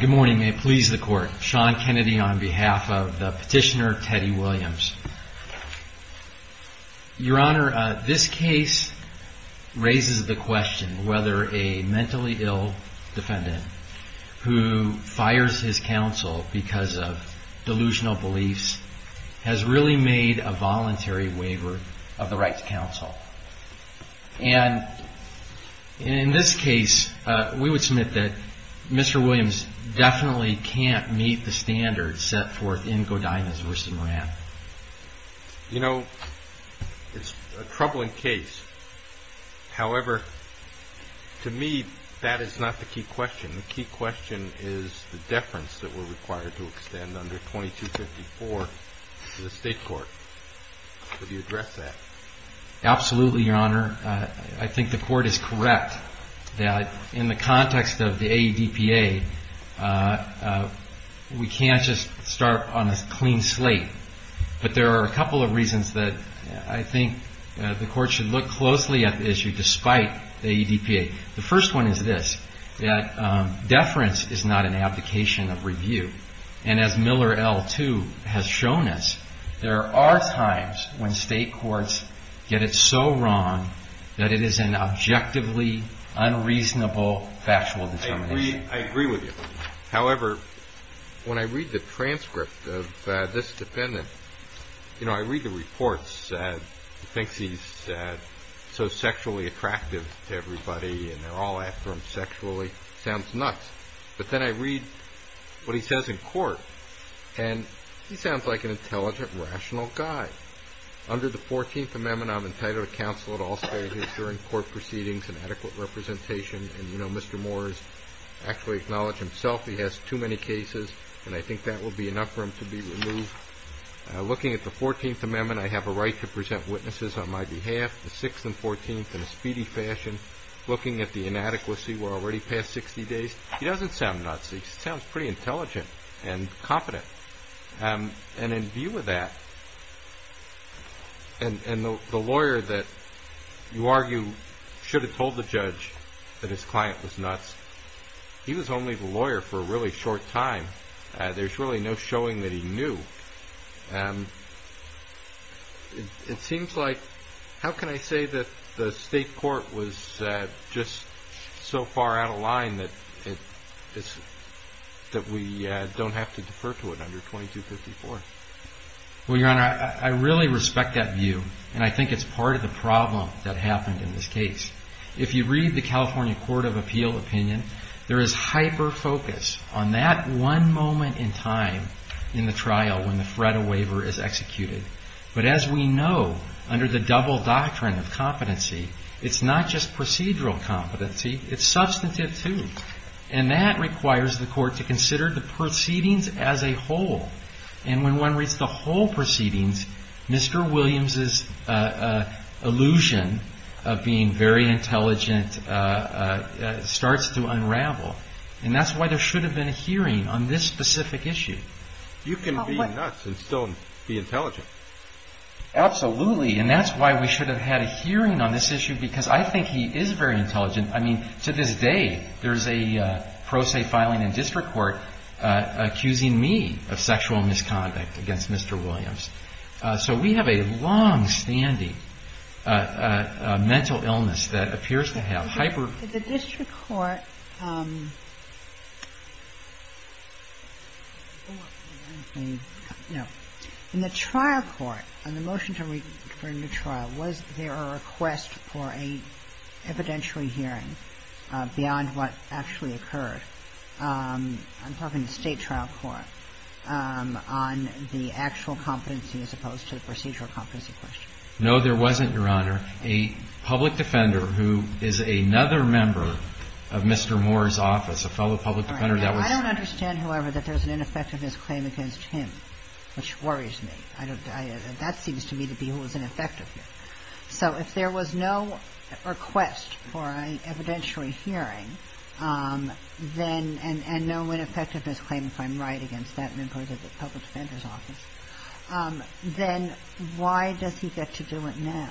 Good morning. May it please the Court. Sean Kennedy on behalf of Petitioner Teddy Williams. Your Honor, this case raises the question whether a mentally ill defendant who fires his counsel because of delusional beliefs has really made a voluntary waiver of the In this case, we would submit that Mr. Williams definitely can't meet the standards set forth in Godinez v. Moran. You know, it's a troubling case. However, to me, that is not the key question. The key question is the deference that we're required to extend under 2254 to the State Court. Could you address that? Absolutely, Your Honor. I think the Court is correct that in the context of the AEDPA, we can't just start on a clean slate. But there are a couple of reasons that I think the Court should look closely at the issue despite the AEDPA. The first one is this, that deference is not an application of review. And as Miller L2 has shown us, there are times when State courts get it so wrong that it is an objectively unreasonable factual determination. I agree with you. However, when I read the transcript of this defendant, you know, I read the reports. He thinks he's so sexually attractive to everybody and they're all after him sexually. It sounds nuts. But then I read what he says in court, and he sounds like an intelligent, rational guy. Under the 14th Amendment, I'm entitled to counsel at all stages during court proceedings and adequate representation. And you know, Mr. Moore has actually acknowledged himself he has too many cases, and I think that will be enough for him to be removed. Looking at the 14th Amendment, I have a right to present witnesses on my behalf. The 6th and 14th in a speedy fashion, looking at the inadequacy, we're already past 60 days. He doesn't sound nuts. He sounds pretty intelligent and competent. And in view of that, and the lawyer that you argue should have told the judge that his client was nuts, he was only the lawyer for a really short time. There's really no showing that he knew. And it seems like, how can I say that the state court was just so far out of line that we don't have to defer to it under 2254? Well, Your Honor, I really respect that view, and I think it's part of the problem that happened in this case. If you read the California Court of Appeal opinion, there is hyper-focus on that one moment in time in the trial when the threat of waiver is executed. But as we know, under the double doctrine of competency, it's not just procedural competency, it's substantive too. And that requires the court to consider the proceedings as a whole. And when one reads the whole proceedings, Mr. Williams' illusion of being very intelligent starts to unravel. And that's why there should have been a hearing on this specific issue. You can be nuts and still be intelligent. Absolutely. And that's why we should have had a hearing on this issue, because I think he is very intelligent. I mean, to this day, there's a pro se filing in district court accusing me of sexual misconduct against Mr. Williams. So we have a longstanding mental illness that appears to have hyper- In the trial court, on the motion to refer him to trial, was there a request for an evidentiary hearing beyond what actually occurred? I'm talking to State trial court on the actual competency as opposed to the procedural competency question. No, there wasn't, Your Honor. A public defender who is another member of Mr. Moore's office, a fellow public defender, that was I don't understand, however, that there's an ineffectiveness claim against him, which worries me. That seems to me to be who was ineffective here. So if there was no request for an evidentiary hearing, and no ineffectiveness claim, if I'm right, against that member of the public defender's office, then why does he get to do it now?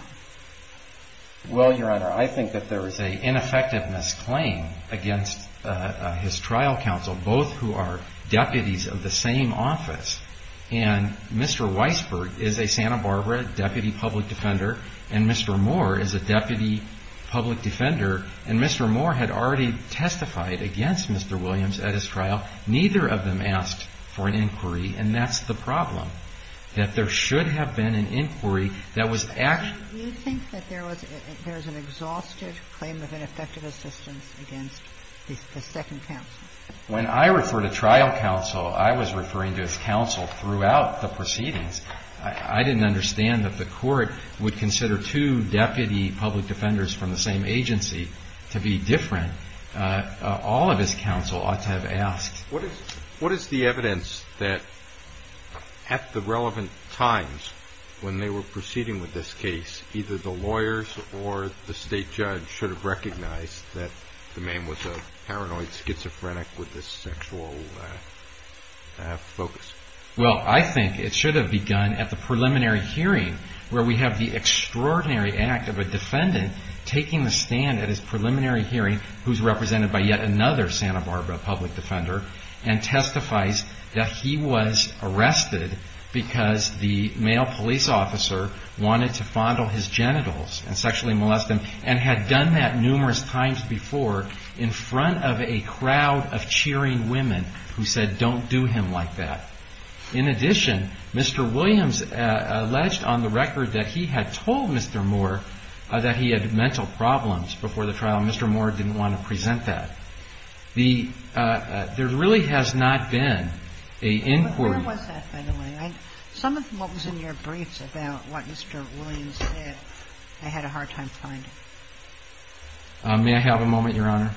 Well, Your Honor, I think that there is an ineffectiveness claim against his trial counsel, both who are deputies of the same office. And Mr. Weisberg is a Santa Barbara deputy public defender, and Mr. Moore is a deputy public defender. And Mr. Moore had already testified against Mr. Williams at his trial. Neither of them asked for an inquiry, and that's the problem. That there should have been an inquiry that was actually Do you think that there was an exhaustive claim of ineffective assistance against the second counsel? When I refer to trial counsel, I was referring to his counsel throughout the proceedings. I didn't understand that the Court would consider two deputy public defenders from the same agency to be different. All of his counsel ought to have asked. What is the evidence that at the relevant times when they were proceeding with this case, either the lawyers or the state judge should have recognized that the man was a paranoid schizophrenic with a sexual focus? Well, I think it should have begun at the preliminary hearing, where we have the extraordinary act of a defendant taking the stand at his preliminary hearing, who is represented by yet another Santa Barbara public defender, and testifies that he was arrested because the male police officer wanted to fondle his genitals and sexually molest him, and had done that numerous times before in front of a crowd of cheering women who said, don't do him like that. In addition, Mr. Williams alleged on the record that he had told Mr. Moore that he had mental problems before the trial, and Mr. Moore didn't want to present that. There really has not been an inquiry. Where was that, by the way? Some of what was in your briefs about what Mr. Williams said, I had a hard time finding. May I have a moment, Your Honor?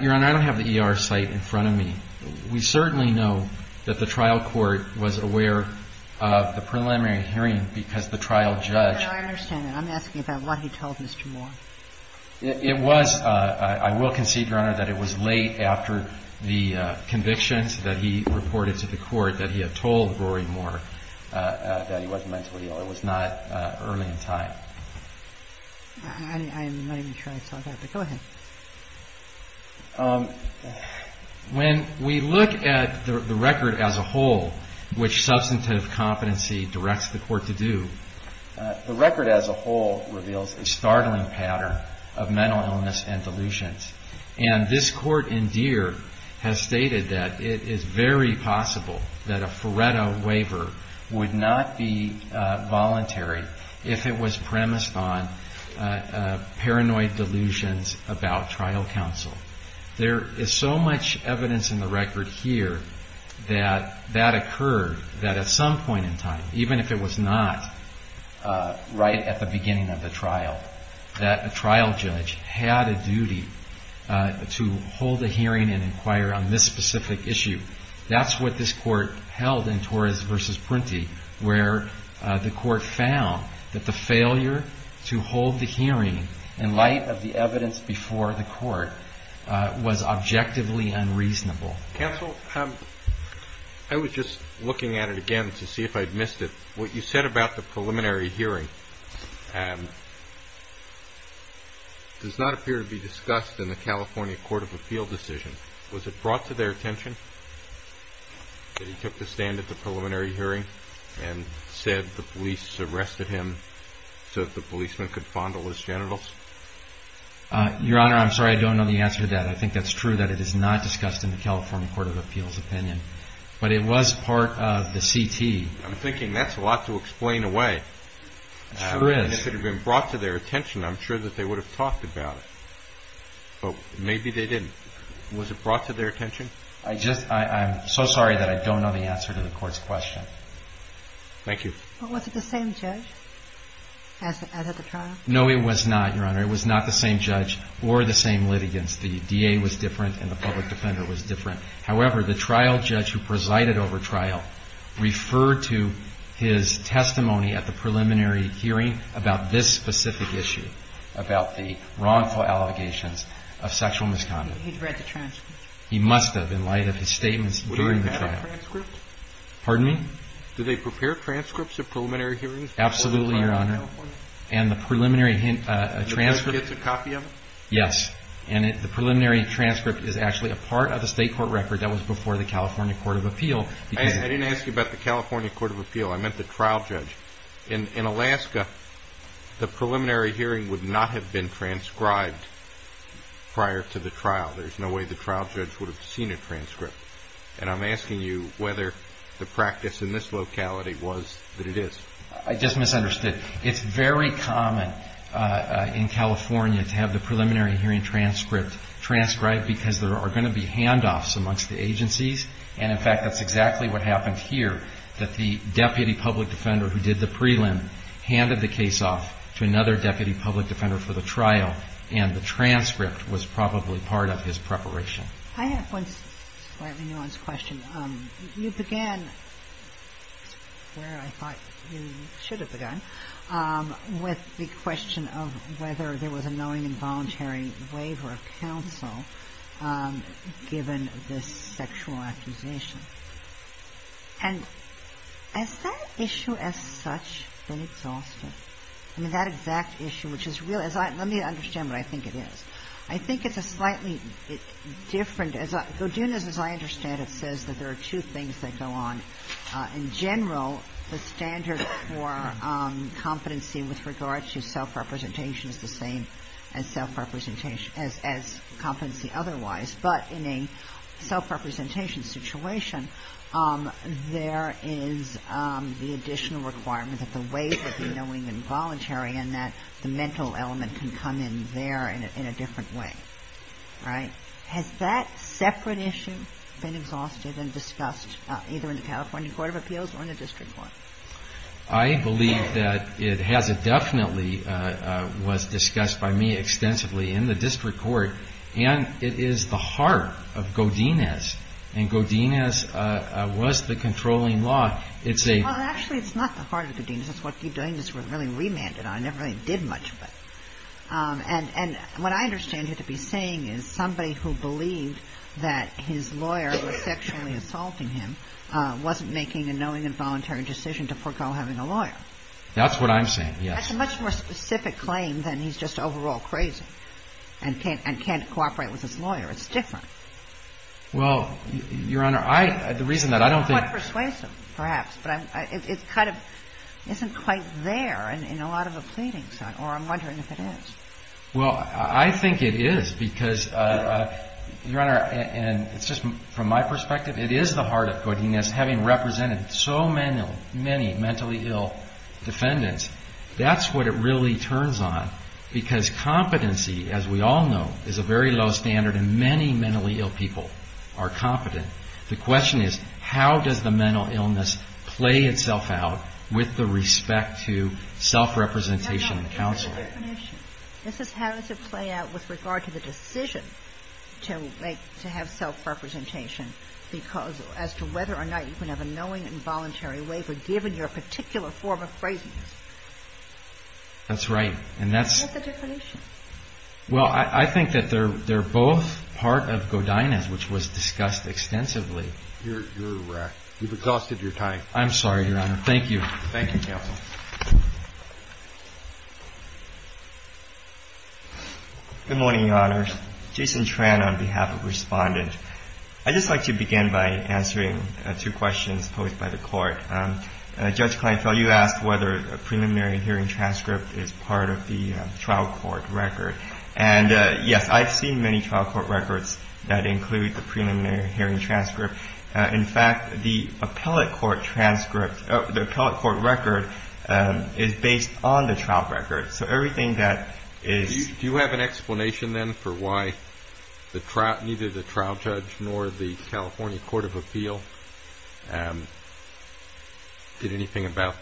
Your Honor, I don't have the ER site in front of me. We certainly know that the trial court was aware of the preliminary hearing because the trial judge – I understand that. I'm asking about what he told Mr. Moore. It was – I will concede, Your Honor, that it was late after the convictions that he reported to the court that he had told Rory Moore that he wasn't mentally ill. It was not early in time. I'm not even sure I saw that, but go ahead. When we look at the record as a whole, which substantive competency directs the court to do, the record as a whole reveals a startling pattern of mental illness and delusions. And this court in Deere has stated that it is very possible that a Faretto waiver would not be voluntary if it was premised on paranoid delusions about trial counsel. There is so much evidence in the record here that that occurred, that at some point in time, even if it was not right at the beginning of the trial, that a trial judge had a duty to hold a hearing and inquire on this specific issue. That's what this court held in Torres v. Prunty, where the court found that the failure to hold the hearing in light of the evidence before the court was objectively unreasonable. Counsel, I was just looking at it again to see if I'd missed it. What you said about the preliminary hearing does not appear to be discussed in the California Court of Appeal decision. Was it brought to their attention that he took the stand at the preliminary hearing and said the police arrested him so that the policeman could fondle his genitals? Your Honor, I'm sorry, I don't know the answer to that. I think that's true that it is not discussed in the California Court of Appeal's opinion, but it was part of the CT. I'm thinking that's a lot to explain away. It sure is. And if it had been brought to their attention, I'm sure that they would have talked about it. But maybe they didn't. Was it brought to their attention? I just – I'm so sorry that I don't know the answer to the Court's question. Thank you. But was it the same judge as at the trial? No, it was not, Your Honor. It was not the same judge or the same litigants. The DA was different and the public defender was different. However, the trial judge who presided over trial referred to his testimony at the preliminary hearing about this specific issue, about the wrongful allegations of sexual misconduct. He'd read the transcript. He must have, in light of his statements during the trial. Would he have had a transcript? Pardon me? Do they prepare transcripts of preliminary hearings? Absolutely, Your Honor. And the preliminary transcript – The judge gets a copy of it? Yes. And the preliminary transcript is actually a part of a state court record that was before the California Court of Appeal. I didn't ask you about the California Court of Appeal. I meant the trial judge. In Alaska, the preliminary hearing would not have been transcribed prior to the trial. There's no way the trial judge would have seen a transcript. And I'm asking you whether the practice in this locality was that it is. I just misunderstood. It's very common in California to have the preliminary hearing transcript transcribed because there are going to be handoffs amongst the agencies. And, in fact, that's exactly what happened here, that the deputy public defender who did the prelim handed the case off to another deputy public defender for the trial, and the transcript was probably part of his preparation. I have one slightly nuanced question. You began where I thought you should have begun with the question of whether there was a knowing and voluntary waiver of counsel given this sexual accusation. And has that issue as such been exhausted? I mean, that exact issue, which is really – let me understand what I think it is. I think it's a slightly different – I think there are two things that go on. In general, the standard for competency with regard to self-representation is the same as competency otherwise. But in a self-representation situation, there is the additional requirement that the waiver be knowing and voluntary and that the mental element can come in there in a different way. Right? Has that separate issue been exhausted and discussed either in the California Court of Appeals or in the district court? I believe that it has. It definitely was discussed by me extensively in the district court. And it is the heart of Godinez. And Godinez was the controlling law. It's a – Well, actually, it's not the heart of Godinez. It's what you're doing is really remanded on. It never really did much of it. And what I understand you to be saying is somebody who believed that his lawyer was sexually assaulting him wasn't making a knowing and voluntary decision to forego having a lawyer. That's what I'm saying, yes. That's a much more specific claim than he's just overall crazy and can't cooperate with his lawyer. It's different. Well, Your Honor, I – the reason that I don't think – but it kind of isn't quite there in a lot of the pleadings or I'm wondering if it is. Well, I think it is because, Your Honor, and it's just from my perspective, it is the heart of Godinez having represented so many mentally ill defendants. That's what it really turns on because competency, as we all know, is a very low standard, and many mentally ill people are competent. The question is how does the mental illness play itself out with the respect to self-representation and counsel? That's not the definition. This is how does it play out with regard to the decision to have self-representation because as to whether or not you can have a knowing and voluntary waiver given your particular form of craziness. That's right, and that's – That's not the definition. Well, I think that they're both part of Godinez, which was discussed extensively. You're – you've exhausted your time. I'm sorry, Your Honor. Thank you. Thank you, counsel. Good morning, Your Honors. Jason Tran on behalf of Respondent. I'd just like to begin by answering two questions posed by the Court. Judge Kleinfeld, you asked whether a preliminary hearing transcript is part of the trial court record. And, yes, I've seen many trial court records that include the preliminary hearing transcript. In fact, the appellate court transcript – the appellate court record is based on the trial record. So everything that is – Do you have an explanation then for why the trial – neither the trial judge nor the California Court of Appeal did anything about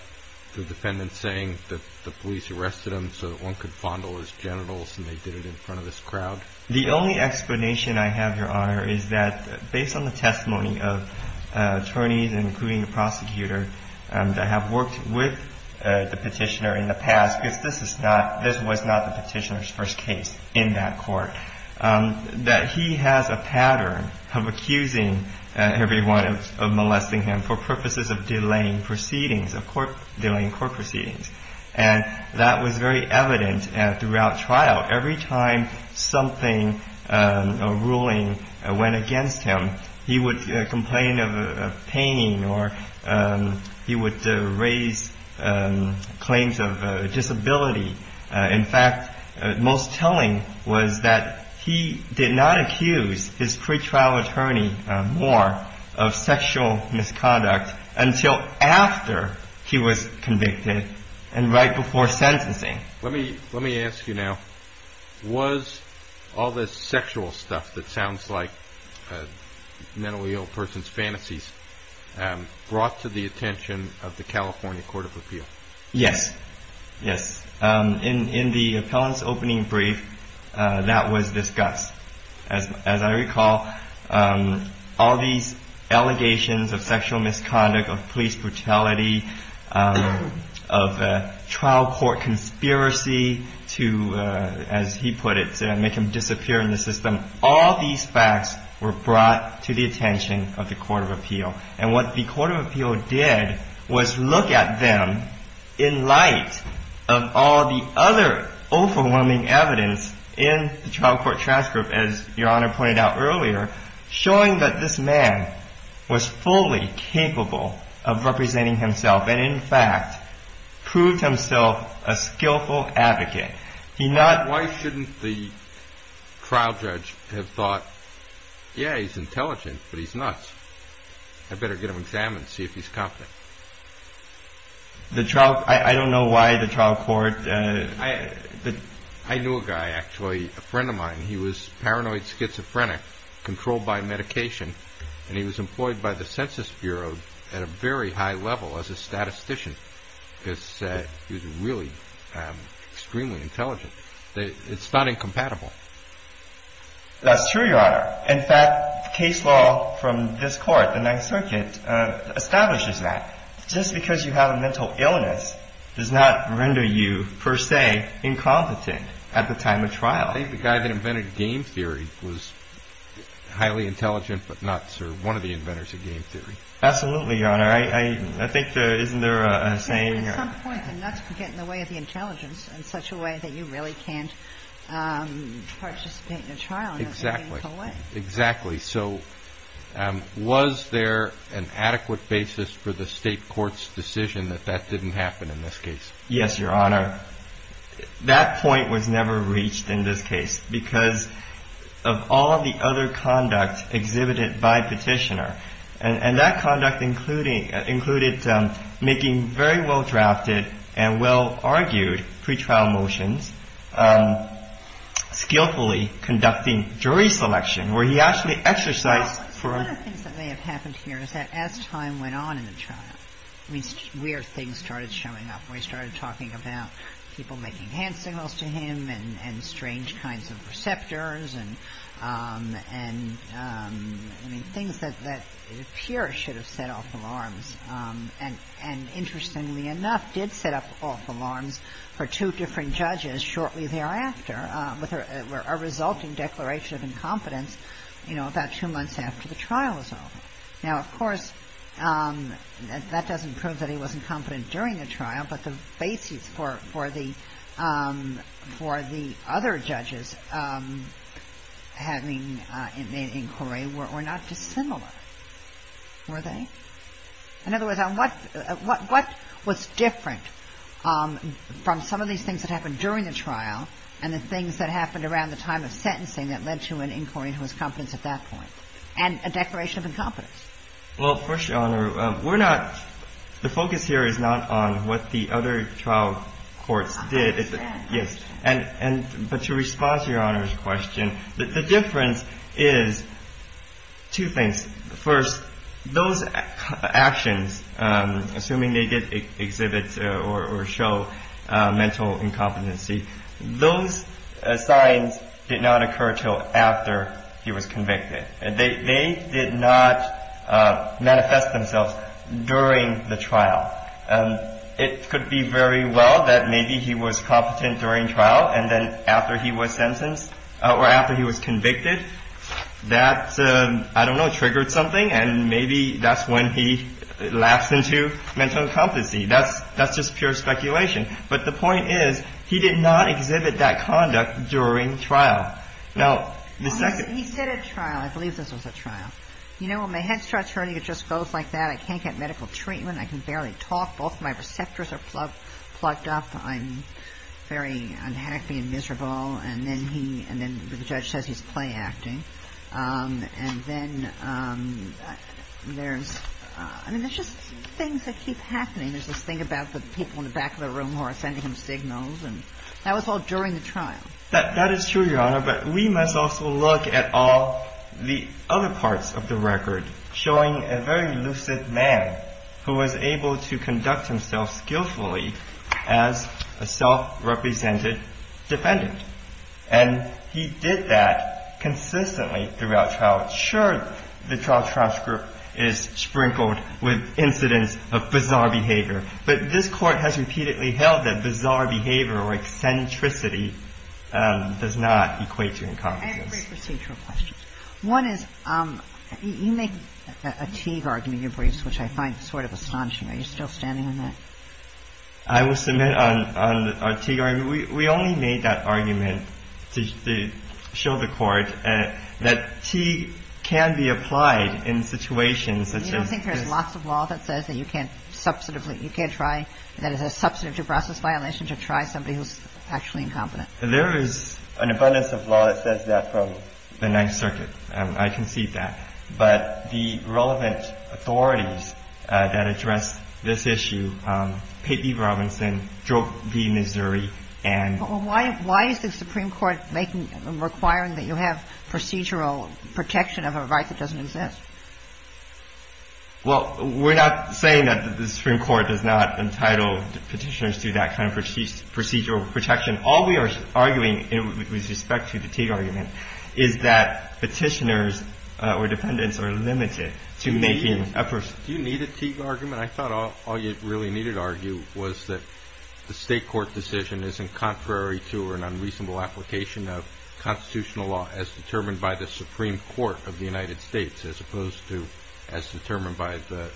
the defendant saying that the police arrested him so that one could fondle his genitals and they did it in front of this crowd? The only explanation I have, Your Honor, is that based on the testimony of attorneys, including the prosecutor, that have worked with the petitioner in the past – because this is not – this was not the petitioner's first case in that court – that he has a pattern of accusing everyone of molesting him for purposes of delaying proceedings, of delaying court proceedings. And that was very evident throughout trial. Every time something – a ruling – went against him, he would complain of pain or he would raise claims of disability. In fact, most telling was that he did not accuse his pretrial attorney more of sexual misconduct until after he was convicted and right before sentencing. Let me ask you now. Was all this sexual stuff that sounds like mentally ill persons' fantasies brought to the attention of the California Court of Appeal? Yes. Yes. In the appellant's opening brief, that was discussed. As I recall, all these allegations of sexual misconduct, of police brutality, of trial court conspiracy to, as he put it, make him disappear in the system, all these facts were brought to the attention of the Court of Appeal. And what the Court of Appeal did was look at them in light of all the other overwhelming evidence in the trial court transcript, as Your Honor pointed out earlier, showing that this man was fully capable of representing himself and in fact proved himself a skillful advocate. Why shouldn't the trial judge have thought, Yeah, he's intelligent, but he's nuts. I better get him examined, see if he's competent. The trial, I don't know why the trial court... I knew a guy, actually, a friend of mine. He was paranoid schizophrenic, controlled by medication, and he was employed by the Census Bureau at a very high level as a statistician. He was really extremely intelligent. It's not incompatible. That's true, Your Honor. In fact, case law from this court, the Ninth Circuit, establishes that. Just because you have a mental illness does not render you, per se, incompetent at the time of trial. I think the guy that invented game theory was highly intelligent, but not one of the inventors of game theory. Absolutely, Your Honor. I think there isn't a saying... At some point, the nuts get in the way of the intelligence in such a way that you really can't participate in a trial in a meaningful way. Exactly. So was there an adequate basis for the state court's decision that that didn't happen in this case? Yes, Your Honor. That point was never reached in this case because of all of the other conduct exhibited by Petitioner. And that conduct included making very well-drafted and well-argued pretrial motions, skillfully conducting jury selection where he actually exercised... One of the things that may have happened here is that as time went on in the trial, weird things started showing up. We started talking about people making hand signals to him and strange kinds of receptors and things that appear should have set off alarms. And interestingly enough, did set off alarms for two different judges shortly thereafter with a resulting declaration of incompetence about two months after the trial was over. Now, of course, that doesn't prove that he was incompetent during the trial, but the basis for the other judges having an inquiry were not dissimilar, were they? In other words, what was different from some of these things that happened during the trial and the things that happened around the time of sentencing that led to an inquiry into his competence at that point and a declaration of incompetence? Well, first, Your Honor, we're not... The focus here is not on what the other trial courts did. But to respond to Your Honor's question, the difference is two things. First, those actions, assuming they did exhibit or show mental incompetency, those signs did not occur until after he was convicted. They did not manifest themselves during the trial. It could be very well that maybe he was competent during trial and then after he was sentenced or after he was convicted, that, I don't know, triggered something, and maybe that's when he lapsed into mental incompetency. That's just pure speculation. But the point is he did not exhibit that conduct during trial. He said at trial, I believe this was at trial, you know, when my head starts hurting, it just goes like that. I can't get medical treatment. I can barely talk. Both of my receptors are plugged up. I'm very unhappy and miserable. And then the judge says he's playacting. And then there's just things that keep happening. There's this thing about the people in the back of the room who are sending him signals. And that was all during the trial. That is true, Your Honor, but we must also look at all the other parts of the record showing a very lucid man who was able to conduct himself skillfully as a self-represented defendant. And he did that consistently throughout trial. Sure, the trial transcript is sprinkled with incidents of bizarre behavior, but this Court has repeatedly held that bizarre behavior or eccentricity does not equate to incompetence. I have three procedural questions. One is you make a Teague argument in your briefs, which I find sort of astonishing. Are you still standing on that? I will submit on our Teague argument. We only made that argument to show the Court that Teague can be applied in situations such as this. The other thing I want to ask you about is there is a box of law that says that you can't substantively you can't try that as a substantive due process violation to try somebody who's actually incompetent. There is an abundance of law that says that from the Ninth Circuit. I concede that. But the relevant authorities that address this issue, Pate v. Robinson, Drobe v. Missouri, and — Why is the Supreme Court requiring that you have procedural protection of a right that doesn't exist? Well, we're not saying that the Supreme Court does not entitle Petitioners to that kind of procedural protection. All we are arguing with respect to the Teague argument is that Petitioners or defendants are limited to making a — Do you need a Teague argument? I mean, I thought all you really needed to argue was that the State court decision is in contrary to or an unreasonable application of constitutional law as determined by the Supreme Court of the United States as opposed to as determined by the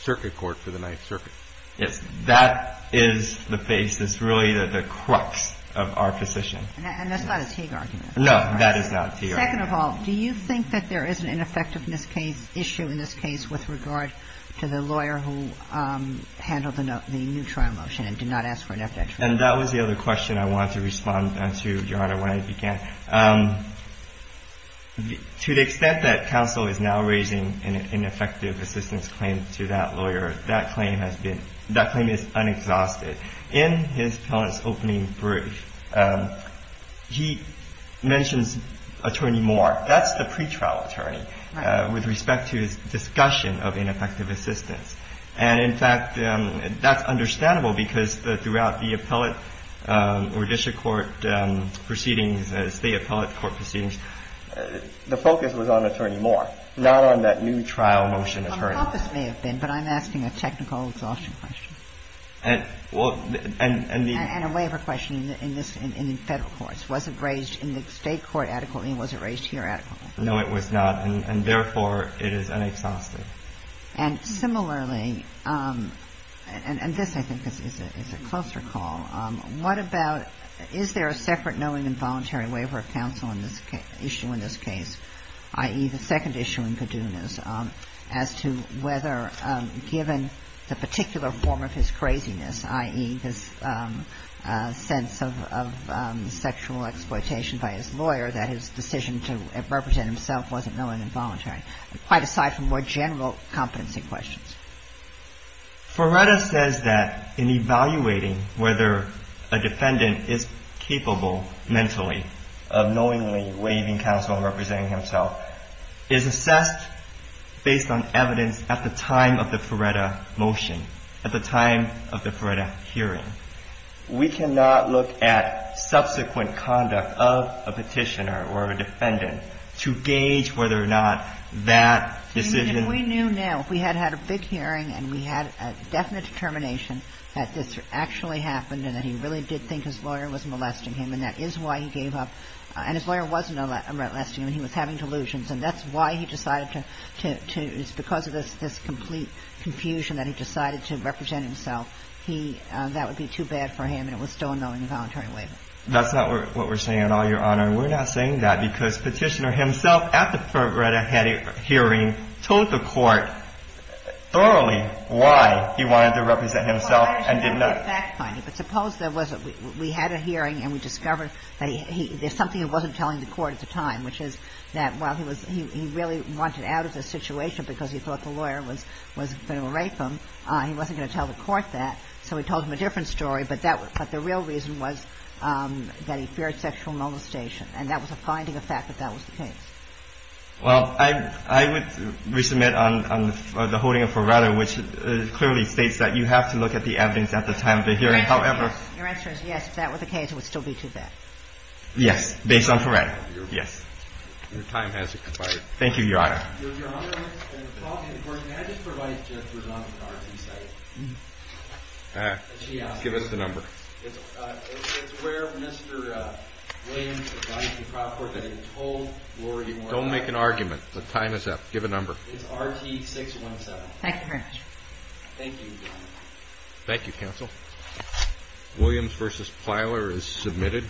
Circuit Court for the Ninth Circuit. Yes. That is the base. That's really the crux of our position. And that's not a Teague argument. No, that is not a Teague argument. Second of all, do you think that there is an ineffectiveness issue in this case with regard to the lawyer who handled the new trial motion and did not ask for an FDIC trial? And that was the other question I wanted to respond to, Your Honor, when I began. To the extent that counsel is now raising an ineffective assistance claim to that lawyer, that claim has been — that claim is unexhausted. In his appellant's opening brief, he mentions Attorney Moore. That's the pretrial attorney with respect to his discussion of ineffective assistance. And, in fact, that's understandable because throughout the appellate or district court proceedings, State appellate court proceedings, the focus was on Attorney Moore, not on that new trial motion attorney. The focus may have been, but I'm asking a technical exhaustion question. And the — And a waiver question in the Federal courts. Was it raised in the State court adequately and was it raised here adequately? No, it was not. And, therefore, it is unexhausted. And, similarly — and this, I think, is a closer call. What about — is there a separate knowing and voluntary waiver of counsel in this case, i.e., the second issue in Caduna's, as to whether, given the particular form of his craziness, i.e., his sense of sexual exploitation by his lawyer, that his decision to represent himself wasn't knowing and voluntary? Quite aside from more general competency questions. Ferretta says that in evaluating whether a defendant is capable mentally of knowingly waiving counsel and representing himself, is assessed based on evidence at the time of the Ferretta motion, at the time of the Ferretta hearing. We cannot look at subsequent conduct of a petitioner or a defendant to gauge whether or not that decision — that decision was made at the time of the Ferretta hearing. And we had a definite determination that this actually happened and that he really did think his lawyer was molesting him. And that is why he gave up. And his lawyer wasn't molesting him. He was having delusions. And that's why he decided to — it's because of this complete confusion that he decided to represent himself. He — that would be too bad for him, and it was still a knowing and voluntary waiver. That's not what we're saying at all, Your Honor. And we're not saying that because Petitioner himself, at the Ferretta hearing, told the Court thoroughly why he wanted to represent himself and did not — Well, I understand the fact finding. But suppose there was a — we had a hearing and we discovered that he — there's something he wasn't telling the Court at the time, which is that while he was — he really wanted out of the situation because he thought the lawyer was going to rape him, he wasn't going to tell the Court that, so he told him a different story. But that — but the real reason was that he feared sexual molestation. And that was a finding of fact that that was the case. Well, I would resubmit on the holding of Ferretta, which clearly states that you have to look at the evidence at the time of the hearing. However — Your answer is yes, if that were the case, it would still be too bad. Yes, based on Ferretta. Yes. Your time has expired. Thank you, Your Honor. Your Honor, and the problem is the Court manages to provide judges with an R.T. site. Give us the number. It's where Mr. Williams advised the trial court that he had told Lori — Don't make an argument. The time is up. Give a number. It's R.T. 617. Thank you very much. Thank you, Your Honor. Thank you, counsel. Williams v. Plyler is submitted.